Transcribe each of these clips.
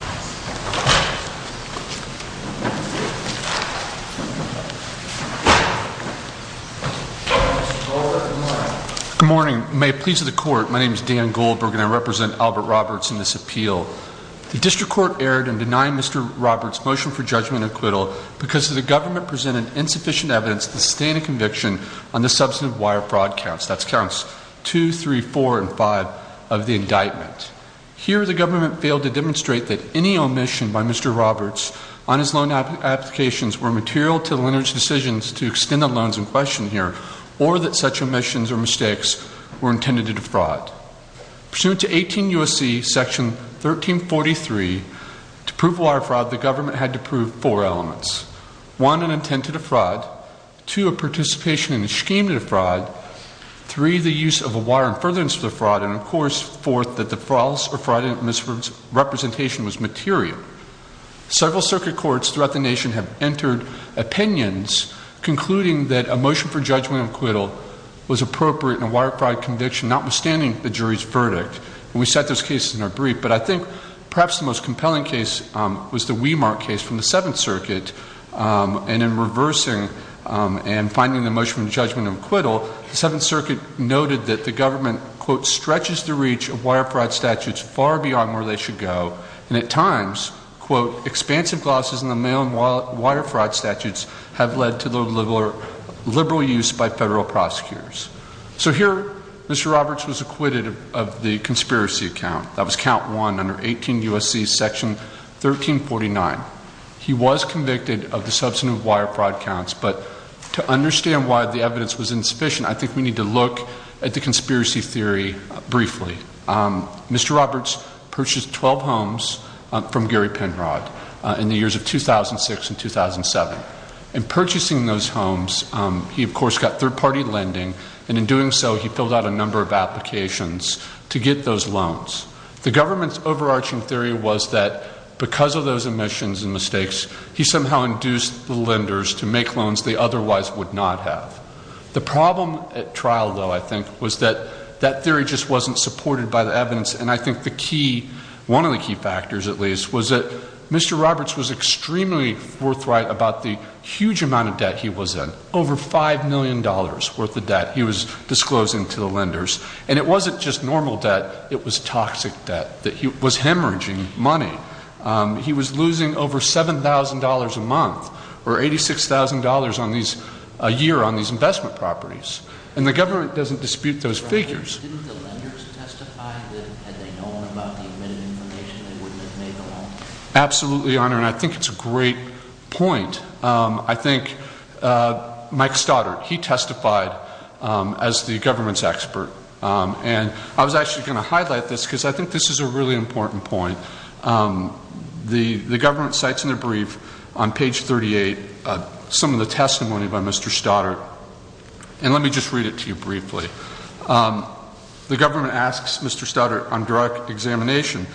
Good morning. May it please the Court, my name is Dan Goldberg and I represent Albert Roberts in this appeal. The District Court erred in denying Mr. Roberts' motion for judgment and acquittal because the government presented insufficient evidence to sustain a conviction on the substantive wire fraud counts, that's counts 2, 3, 4, and 5 of the any omission by Mr. Roberts on his loan applications were material to the lender's decisions to extend the loans in question here, or that such omissions or mistakes were intended to defraud. Pursuant to 18 U.S.C. section 1343, to prove wire fraud, the government had to prove four elements. One, an intent to defraud. Two, a participation in a scheme to defraud. Three, the use of a wire in furtherance of the fraud. And of course, fourth, that the false or fraudulent misrepresentation was material. Several circuit courts throughout the nation have entered opinions concluding that a motion for judgment and acquittal was appropriate in a wire fraud conviction, notwithstanding the jury's verdict. We set those cases in our brief, but I think perhaps the most compelling case was the Weimar case from the Seventh Circuit and in reversing and finding the motion for judgment and acquittal, the Seventh Circuit noted that the government, quote, stretches the reach of wire fraud statutes far beyond where they should go, and at times, quote, expansive losses in the mail and wire fraud statutes have led to the liberal use by federal prosecutors. So here Mr. Roberts was acquitted of the conspiracy account. That was count one under 18 U.S.C. section 1349. He was convicted of the substantive wire fraud counts, but to understand why the evidence was insufficient, I think we need to look at the conspiracy theory briefly. Mr. Roberts purchased 12 homes from Gary Penrod in the years of 2006 and 2007. In purchasing those homes, he of course got third-party lending, and in doing so, he filled out a number of applications to get those loans. The government's overarching theory was that because of those omissions and mistakes, he somehow induced the lenders to make loans they otherwise would not have. The problem at trial, though, I think, was that that theory just wasn't supported by the evidence, and I think the key, one of the key factors, at least, was that Mr. Roberts was extremely forthright about the huge amount of debt he was in, over $5 million worth of debt he was disclosing to the lenders. And it wasn't just normal debt, it was toxic debt, that he was hemorrhaging money. He was losing over $7,000 a month, or $86,000 a year on these investment properties. And the government doesn't dispute those figures. Didn't the lenders testify that, had they known about the omitted information, they wouldn't have made the loan? Absolutely, Your Honor, and I think it's a great point. I think Mike Stoddard, he testified as the government's expert. And I was actually going to highlight this because I think this is a really important point. The government cites in their brief, on page 38, some of the testimony by Mr. Stoddard. And let me just read it to you briefly. The government asks Mr. Stoddard on direct examination,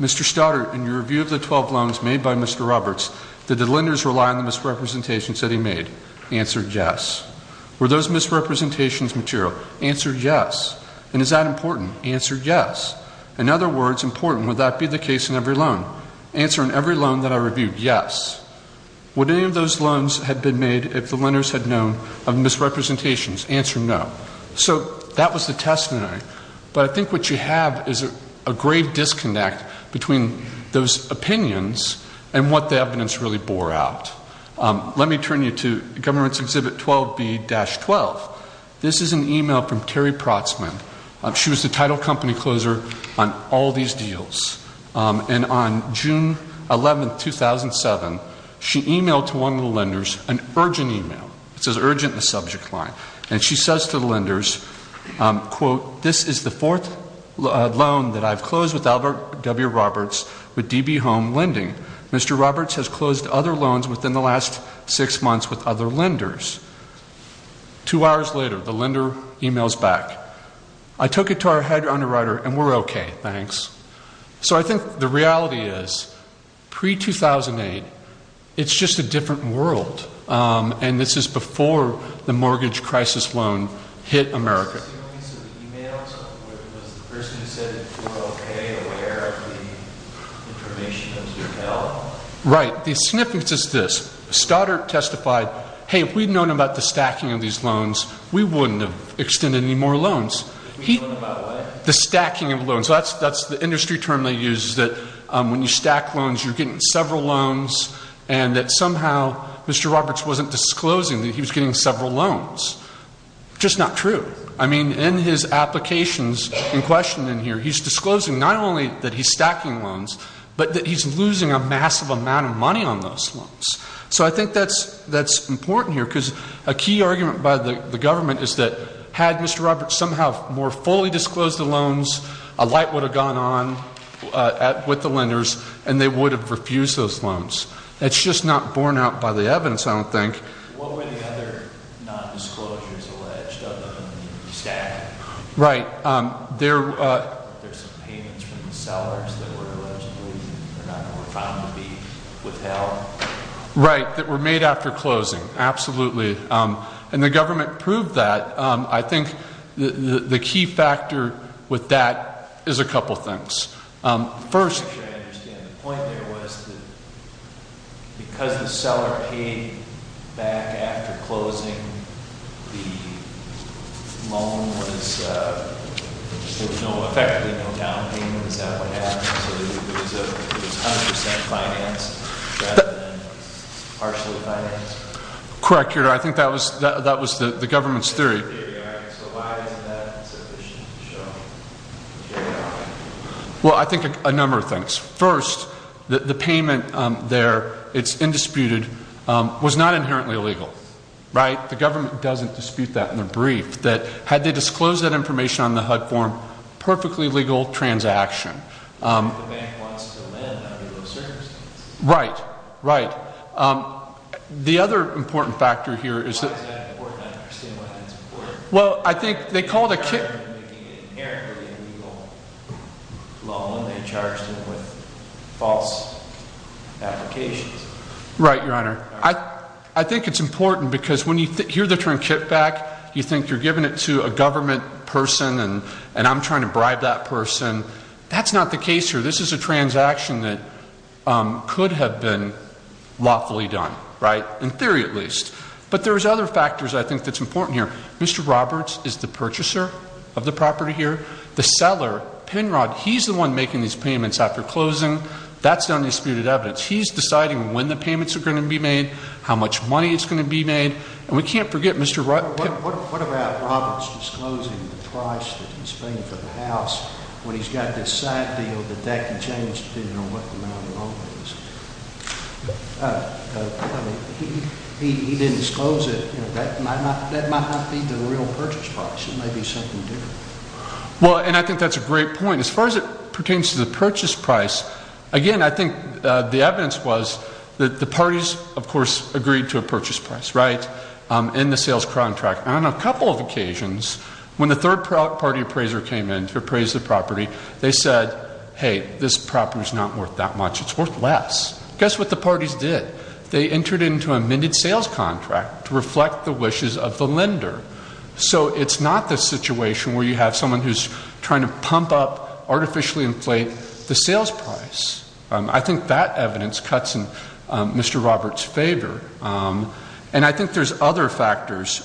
Mr. Stoddard, in your review of the 12 loans made by Mr. Roberts, did the lenders rely on the misrepresentations that he made? Answered yes. Were those misrepresentations material? Answered yes. And is that important? Answered yes. In other words, important, would that be the case in every loan? Answer, in every loan that had been made, if the lenders had known of misrepresentations, answer no. So that was the testimony. But I think what you have is a grave disconnect between those opinions and what the evidence really bore out. Let me turn you to Government's Exhibit 12B-12. This is an email from Terry Protzman. She was the title company closer on all these deals. And on June 11, 2007, she emailed to the lenders an urgent email. It says urgent in the subject line. And she says to the lenders, this is the fourth loan that I've closed with W. Roberts with DB Home Lending. Mr. Roberts has closed other loans within the last six months with other lenders. Two hours later, the lender emails back, I took it to our head underwriter and we're okay, thanks. So I think the reality is, pre-2008, it's just a different world. And this is before the mortgage crisis loan hit America. Was the person who sent it okay aware of the information that was emailed? Right. The significance is this. Stoddart testified, hey, if we'd known about the stacking of these loans, we wouldn't have extended any more loans. We'd known about what? The stacking of loans. So that's the industry term they use, is that when you stack loans, you're getting several loans, and that somehow Mr. Roberts wasn't disclosing that he was getting several loans. Just not true. I mean, in his applications in question in here, he's disclosing not only that he's stacking loans, but that he's losing a massive amount of money on those loans. So I think that's important here, because a key argument by the government is that had Mr. Roberts somehow more fully disclosed the loans, a light would have gone on with the lenders, and they would have refused those loans. It's just not borne out by the evidence, I don't think. What were the other non-disclosures alleged of him stacking? Right. There's some payments from the sellers that were allegedly found to be withheld. Right, that were made after closing. Absolutely. And the government proved that. I think the key factor with that is a couple things. First... I'm not sure I understand. The point there was that because the seller paid back after closing, the loan was, there was effectively no down payment. Is that what happened? So it was 100% financed rather than partially financed? Correct, I think that was the government's theory. So why isn't that sufficient to show? Well, I think a number of things. First, the payment there, it's indisputed, was not inherently illegal, right? The government doesn't dispute that in their brief, that had they disclosed that information on the HUD form, perfectly legal transaction. The bank wants to lend under those circumstances. Right, right. The other important factor here is that... Why is that important? I don't understand why that's important. Well, I think they called a... They're making it inherently illegal loan when they charged him with false applications. Right, Your Honor. I think it's important because when you hear the term kitback, you think you're giving it to a government person and I'm trying to bribe that person. That's not the case here. This is a transaction that could have been lawfully done, right? In theory at least. But there's other factors I think that's important here. Mr. Roberts is the purchaser of the property here. The seller, Penrod, he's the one making these payments after closing. That's the undisputed evidence. He's deciding when the payments are going to be made, how much money is going to be made. And we can't forget Mr. Penrod... What about Roberts disclosing the price that he's paying for the house when he's got this sad deal that that could change depending on what the amount of loan is? He didn't disclose it. That might not be the real purchase price. It may be something different. Well, and I think that's a great point. As far as it pertains to the purchase price, again, I think the evidence was that the parties, of course, agreed to a purchase price, right? In the sales contract. On a couple of occasions, when the third party appraiser came in to appraise the property, they said, hey, this property is not worth that much. It's worth less. Guess what the parties did? They entered into a minted sales contract to reflect the wishes of the lender. So it's not the situation where you have someone who's trying to pump up, artificially inflate the sales price. I think that evidence cuts in Mr. Roberts' favor. And I think there's other factors.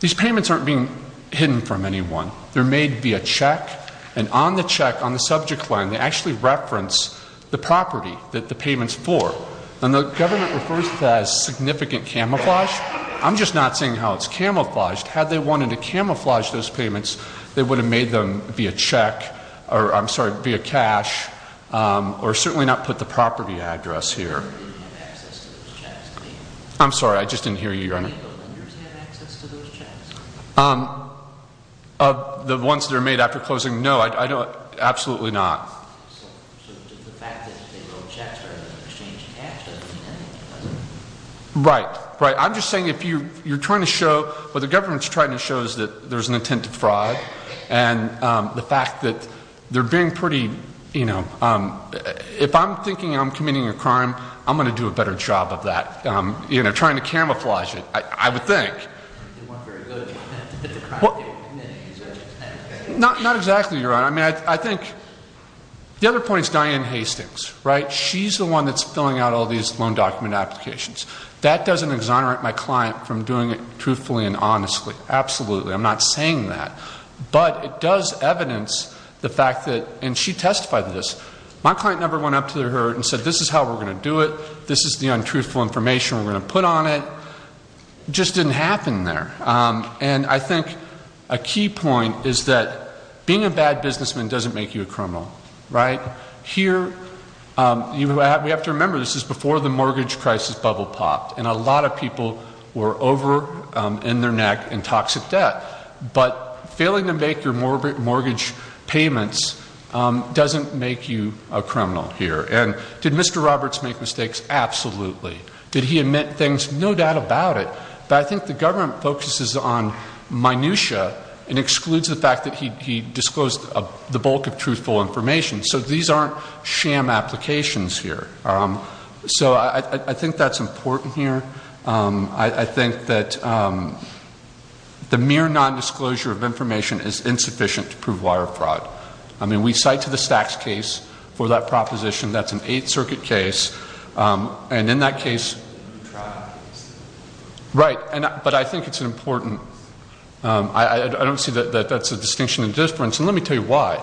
These payments aren't being hidden from anyone. They're made via check. And on the check, on the subject line, they actually reference the property that the payment's for. And the government refers to that as significant camouflage. I'm just not seeing how it's camouflaged. Had they wanted to camouflage those payments, they would have made them via check, or, I'm sorry, via cash, or certainly not put the property address here. You didn't have access to those chats, did you? I'm sorry, I just didn't hear you. Did any of the lenders have access to those chats? Of the ones that are made after closing, no. Absolutely not. So the fact that they wrote chats rather than exchanging cash doesn't mean anything, does it? Right. Right. I'm just saying if you're trying to show, what the government's trying to show is that there's an intent to fraud, and the fact that they're being pretty, you know, if I'm thinking I'm committing a crime, I'm going to do a better job of that. You know, trying to camouflage it, I would think. They weren't very good at the crime they were committing. Not exactly, Your Honor. I mean, I think, the other point is Diane Hastings, right? She's the one that's filling out all these loan document applications. That doesn't exonerate my client from doing it truthfully and honestly. Absolutely. I'm not saying that. But it does evidence the fact that, and she testified to this, my client never went up to her and said, this is how we're going to do it. This is the untruthful information we're going to put on it. It just didn't happen there. And I think a key point is that being a bad businessman doesn't make you a criminal. Right? Here, we have to remember, this is before the mortgage crisis bubble popped, and a lot of people were over in their neck in toxic debt. But failing to make your mortgage payments doesn't make you a criminal here. And did Mr. Roberts make mistakes? Absolutely. Did he admit things? No doubt about it. But I think the government focuses on untruthful information. So these aren't sham applications here. So I think that's important here. I think that the mere non-disclosure of information is insufficient to prove wire fraud. I mean, we cite to the Stax case for that proposition. That's an Eighth Circuit case. And in that case... Right. But I think it's an important... I don't see that that's a distinction of difference. And let me tell you why.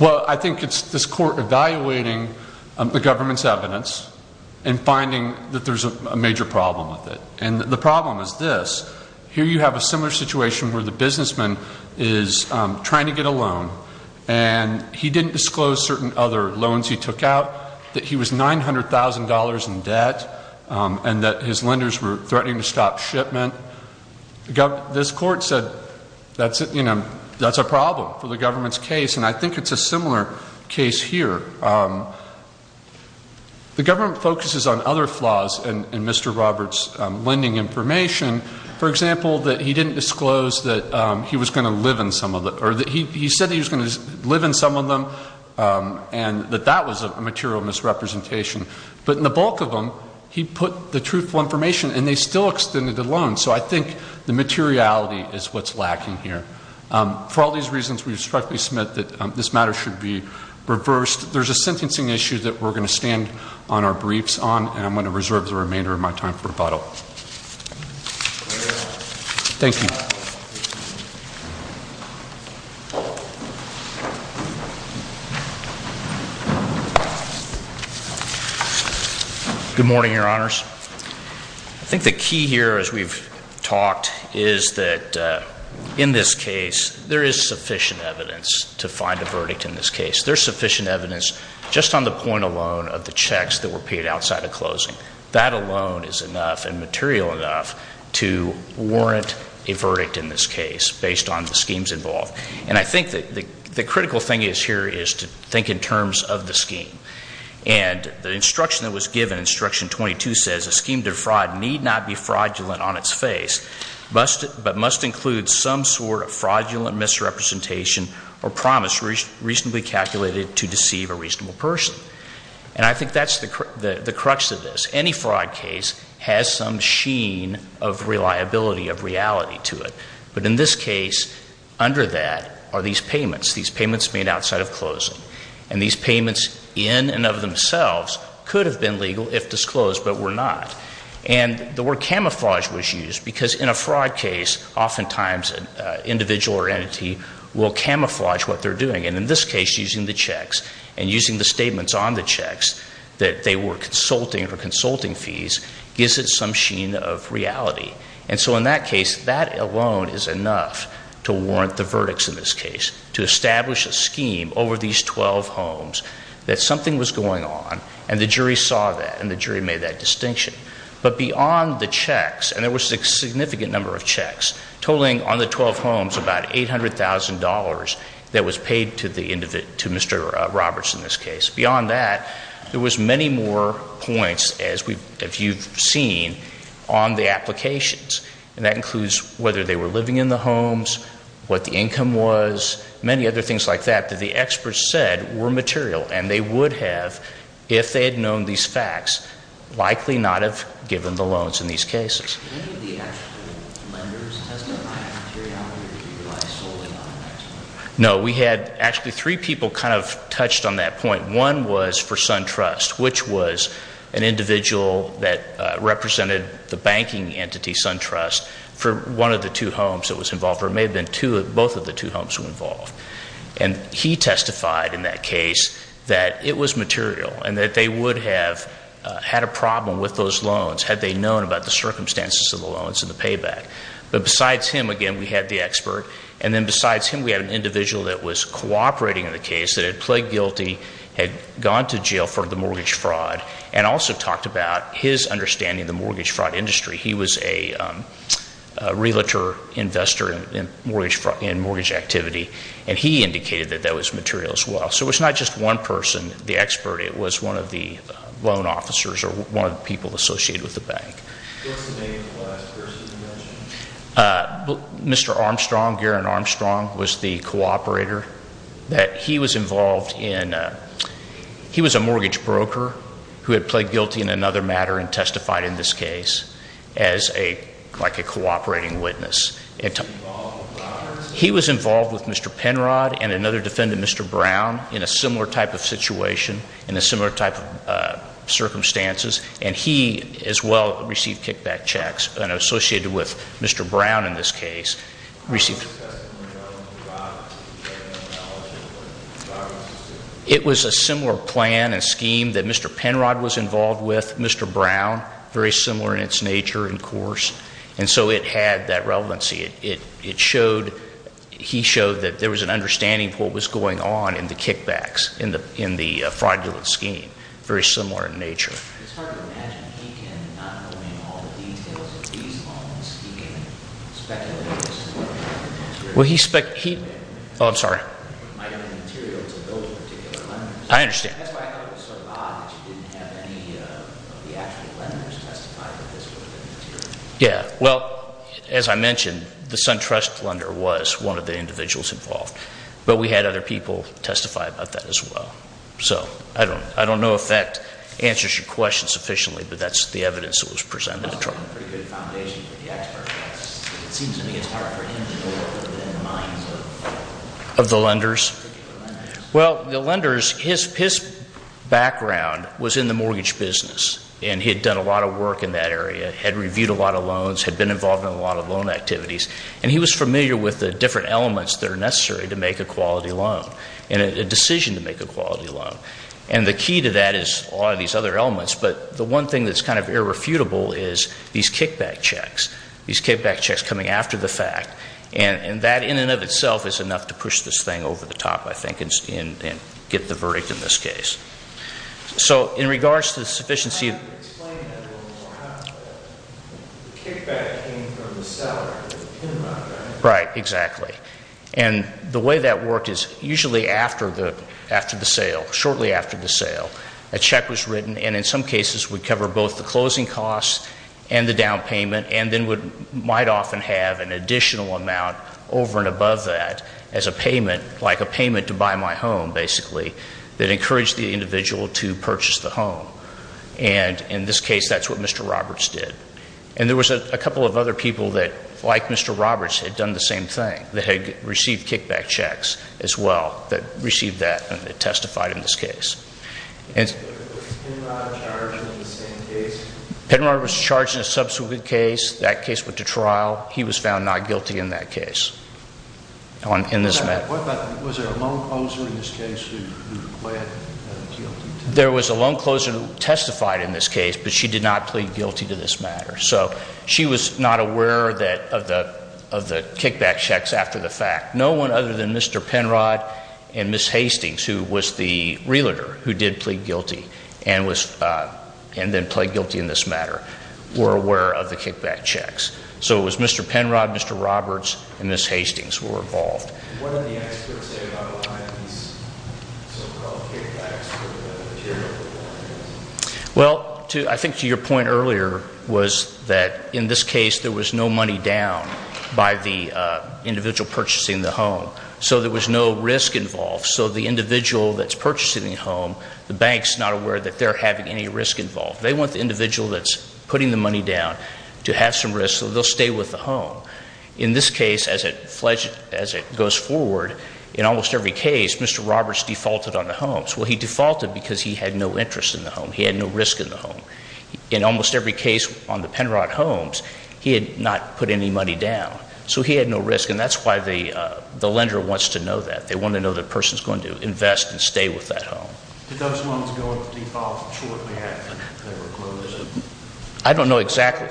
Well, I think it's this court evaluating the government's evidence and finding that there's a major problem with it. And the problem is this. Here you have a similar situation where the businessman is trying to get a loan. And he didn't disclose certain other loans he took out, that he was $900,000 in debt, and that his lenders were threatening to stop shipment. This court said, you know, that's a problem for the government's case. And I think it's a similar case here. The government focuses on other flaws in Mr. Roberts' lending information. For example, that he didn't disclose that he was going to live in some of the... He said he was going to live in some of them, and that that was a material misrepresentation. But in the bulk of them, he put the truthful information, and they still extended the loan. So I think the materiality is what's lacking here. For all these reasons, we respectfully submit that this matter should be reversed. There's a sentencing issue that we're going to stand on our briefs on. And I'm going to reserve the remainder of my time for rebuttal. Thank you. Good morning, Your Honors. I think the key here, as we've talked, is that in this case, there is sufficient evidence to find a verdict in this case. There's sufficient evidence just on the point alone of the checks that were paid outside of closing. That alone is enough and material enough to warrant a verdict in this case based on the schemes involved. And I think the critical thing here is to think in terms of the scheme. And the instruction that was given, Instruction 22, says, A scheme to fraud need not be fraudulent on its face, but must include some sort of fraudulent misrepresentation or promise reasonably calculated to deceive a reasonable person. And I think that's the crux of this. Any fraud case has some sheen of reliability, of reality to it. But in this case, under that are these payments, these payments made outside of closing. And these payments in and of themselves could have been legal if disclosed, but were not. And the word camouflage was used because in a fraud case, oftentimes, an individual or entity will camouflage what they're doing. And in this case, using the checks and using the statements on the checks that they were consulting or consulting fees gives it some sheen of reality. And so in that case, that alone is enough to warrant the verdicts in this case, to establish a scheme over these 12 homes that something was going on, and the jury saw that, and the jury made that distinction. But beyond the checks, and there was a significant number of checks, totaling on the 12 homes about $800,000 that was paid to Mr. Roberts in this case. Beyond that, there was many more points, as you've seen, on the applications. And that includes whether they were living in the homes, what the income was, many other things like that, that the experts said were material. And they would have, if they had known these facts, likely not have given the loans in these cases. Did any of the actual lenders testify? No, we had actually three people kind of touched on that point. One was for SunTrust, which was an individual that represented the banking entity, SunTrust, for one of the two homes that was involved, or it may have been both of the two homes involved. And he testified in that case that it was material, and that they would have had a problem with those loans had they known about the circumstances of the loans and the payback. But besides him, again, we had the expert. And then besides him, we had an individual that was cooperating in the case that had pled guilty, had gone to jail for the mortgage fraud, and also talked about his understanding of the mortgage fraud industry. He was a realtor investor in mortgage activity, and he indicated that that was material as well. So it was not just one person, the expert. It was one of the loan officers or one of the people associated with the bank. What was the name of the last person you mentioned? Mr. Armstrong, Garren Armstrong, was the cooperator. He was a mortgage broker who had pled guilty in another matter and testified in this case as a cooperating witness. He was involved with Mr. Penrod and another defendant, Mr. Brown, in a similar type of situation, in a similar type of circumstances. And he as well received kickback checks, and associated with Mr. Brown in this case. It was a similar plan and scheme that Mr. Penrod was involved with, Mr. Brown, very similar in its nature and course, and so it had that relevancy. It showed, he showed that there was an understanding of what was going on in the kickbacks, in the fraudulent scheme, very similar in nature. It's hard to imagine he can, not knowing all the details of these loans, being speculative. Oh, I'm sorry. I understand. Yeah, well, as I mentioned, the SunTrust lender was one of the individuals involved. But we had other people testify about that as well. I don't know if that answers your question sufficiently, but that's the evidence that was presented at trial. Well, the lenders, his background was in the mortgage business, and he had done a lot of work in that area, had reviewed a lot of loans, had been involved in a lot of loan activities, and he was familiar with the different elements that are necessary to make a quality loan, and a decision to make a quality loan. And the key to that is a lot of these other elements, but the one thing that's kind of irrefutable is these kickback checks, these kickback checks coming after the fact, and that in and of itself is enough to push this thing over the top, I think, and get the verdict in this case. So in regards to the sufficiency of... The kickback came from the seller. Right, exactly. And the way that worked is usually after the sale, shortly after the sale, a check was written, and in some cases would cover both the closing costs and the down payment, and then might often have an additional amount over and above that as a payment, like a payment to buy my home, basically, that encouraged the individual to purchase the home. And in this case, that's what Mr. Roberts did. And there was a couple of other people that, like Mr. Roberts, had done the same thing, that had received kickback checks as well that received that and had testified in this case. Penrod was charged in a subsequent case. That case went to trial. He was found not guilty in that case. Was there a loan closer in this case who pled guilty? There was a loan closer who testified in this case, but she did not plead guilty to this matter. So she was not aware of the kickback checks after the fact. No one other than Mr. Penrod and Ms. Hastings, who was the realtor who did plead guilty and then pled guilty in this matter, were aware of the kickback checks. So it was Mr. Penrod, Mr. Roberts, and Ms. Hastings who were involved. What did the experts say about behind these so-called kickbacks? Well, I think to your point earlier was that in this case there was no money down by the individual purchasing the home. So there was no risk involved. So the individual that's purchasing the home, the bank's not aware that they're having any risk involved. They want the individual that's putting the money down to have some risk so they'll stay with the home. In this case, as it goes forward, in almost every case, Mr. Roberts defaulted on the homes. Well, he defaulted because he had no interest in the home. He had no risk in the home. In almost every case on the Penrod homes, he had not put any money down. So he had no risk. And that's why the lender wants to know that. They want to know the person's going to invest and stay with that home. Did those homes go into default shortly after they were closed? I don't know exactly.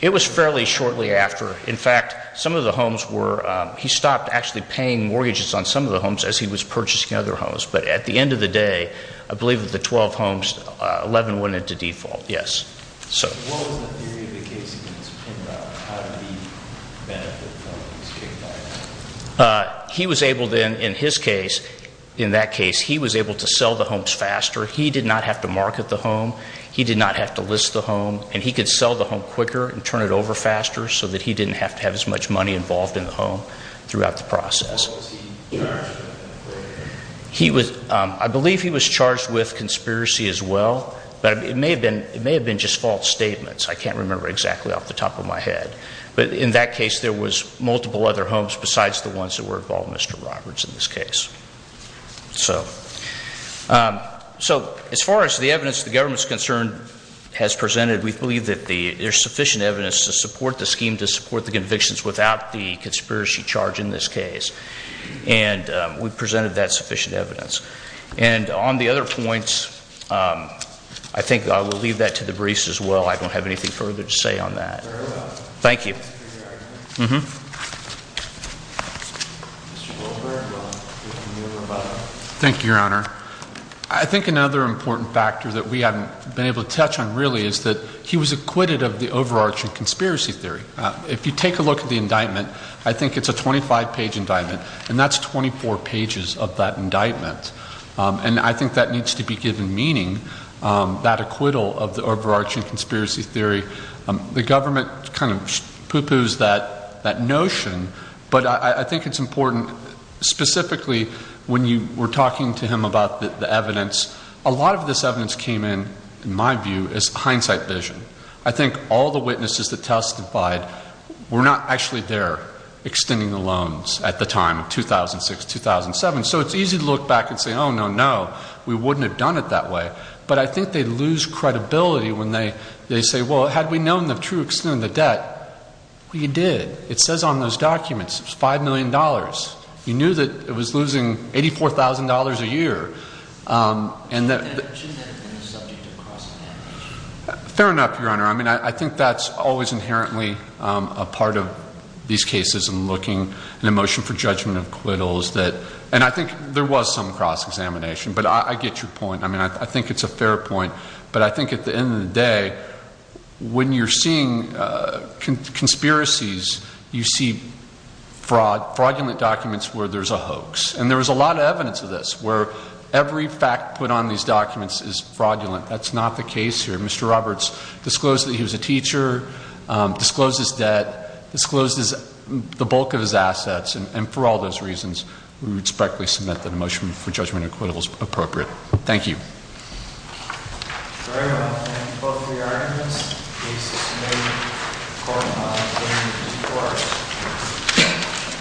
It was fairly shortly after. In fact, some of the homes were, he stopped actually paying mortgages on some of the homes as he was purchasing other homes. But at the end of the day, I believe of the 12 homes, 11 went into default, yes. So what was the theory of the case against Penrod? How did he benefit from being kicked out? He was able then, in his case, in that case, he was able to sell the homes faster. He did not have to market the home. He did not have to list the home. And he could sell the home quicker and turn it over faster so that he didn't have to have as much money involved in the home throughout the process. What was he charged with? I believe he was charged with conspiracy as well. But it may have been just false statements. I can't remember exactly off the top of my head. But in that case, there was multiple other homes besides the ones that were involved, Mr. Roberts, in this case. So as far as the evidence the government's concerned has presented, we believe that there's sufficient evidence to support the scheme, to support the convictions without the conspiracy charge in this case. And we've presented that sufficient evidence. And on the other points, I think I will leave that to the briefs as well. I don't have anything further to say on that. Thank you. Thank you, Your Honor. I think another important factor that we haven't been able to touch on really is that he was acquitted of the overarching conspiracy theory. If you take a look at the indictment, I think it's a 25-page indictment. And that's 24 pages of that indictment. And I think that needs to be given meaning, that acquittal of the overarching conspiracy theory. The government kind of pooh-poohs that notion. But I think it's important specifically when you were talking to him about the evidence, a lot of this evidence came in, in my view, as hindsight vision. I think all the witnesses that testified were not actually there extending the loans at the time of 2006, 2007. So it's easy to look back and say, oh, no, no, we wouldn't have done it that way. But I think they lose credibility when they say, well, had we known the true extent of the debt, we did. It says on those documents it was $5 million. You knew that it was losing $84,000 a year. And that... Fair enough, Your Honor. I mean, I think that's always inherently a part of these cases in looking at a motion for judgment of acquittals. And I think there was some cross-examination. But I get your point. I mean, I think it's a fair point. But I think at the same time, you see fraudulent documents where there's a hoax. And there was a lot of evidence of this, where every fact put on these documents is fraudulent. That's not the case here. Mr. Roberts disclosed that he was a teacher, disclosed his debt, disclosed the bulk of his assets. And for all those reasons, we respectfully submit that a motion for judgment of acquittal is appropriate. Thank you. Very well. Thank you both for your arguments. Case is submitted. Court is adjourned.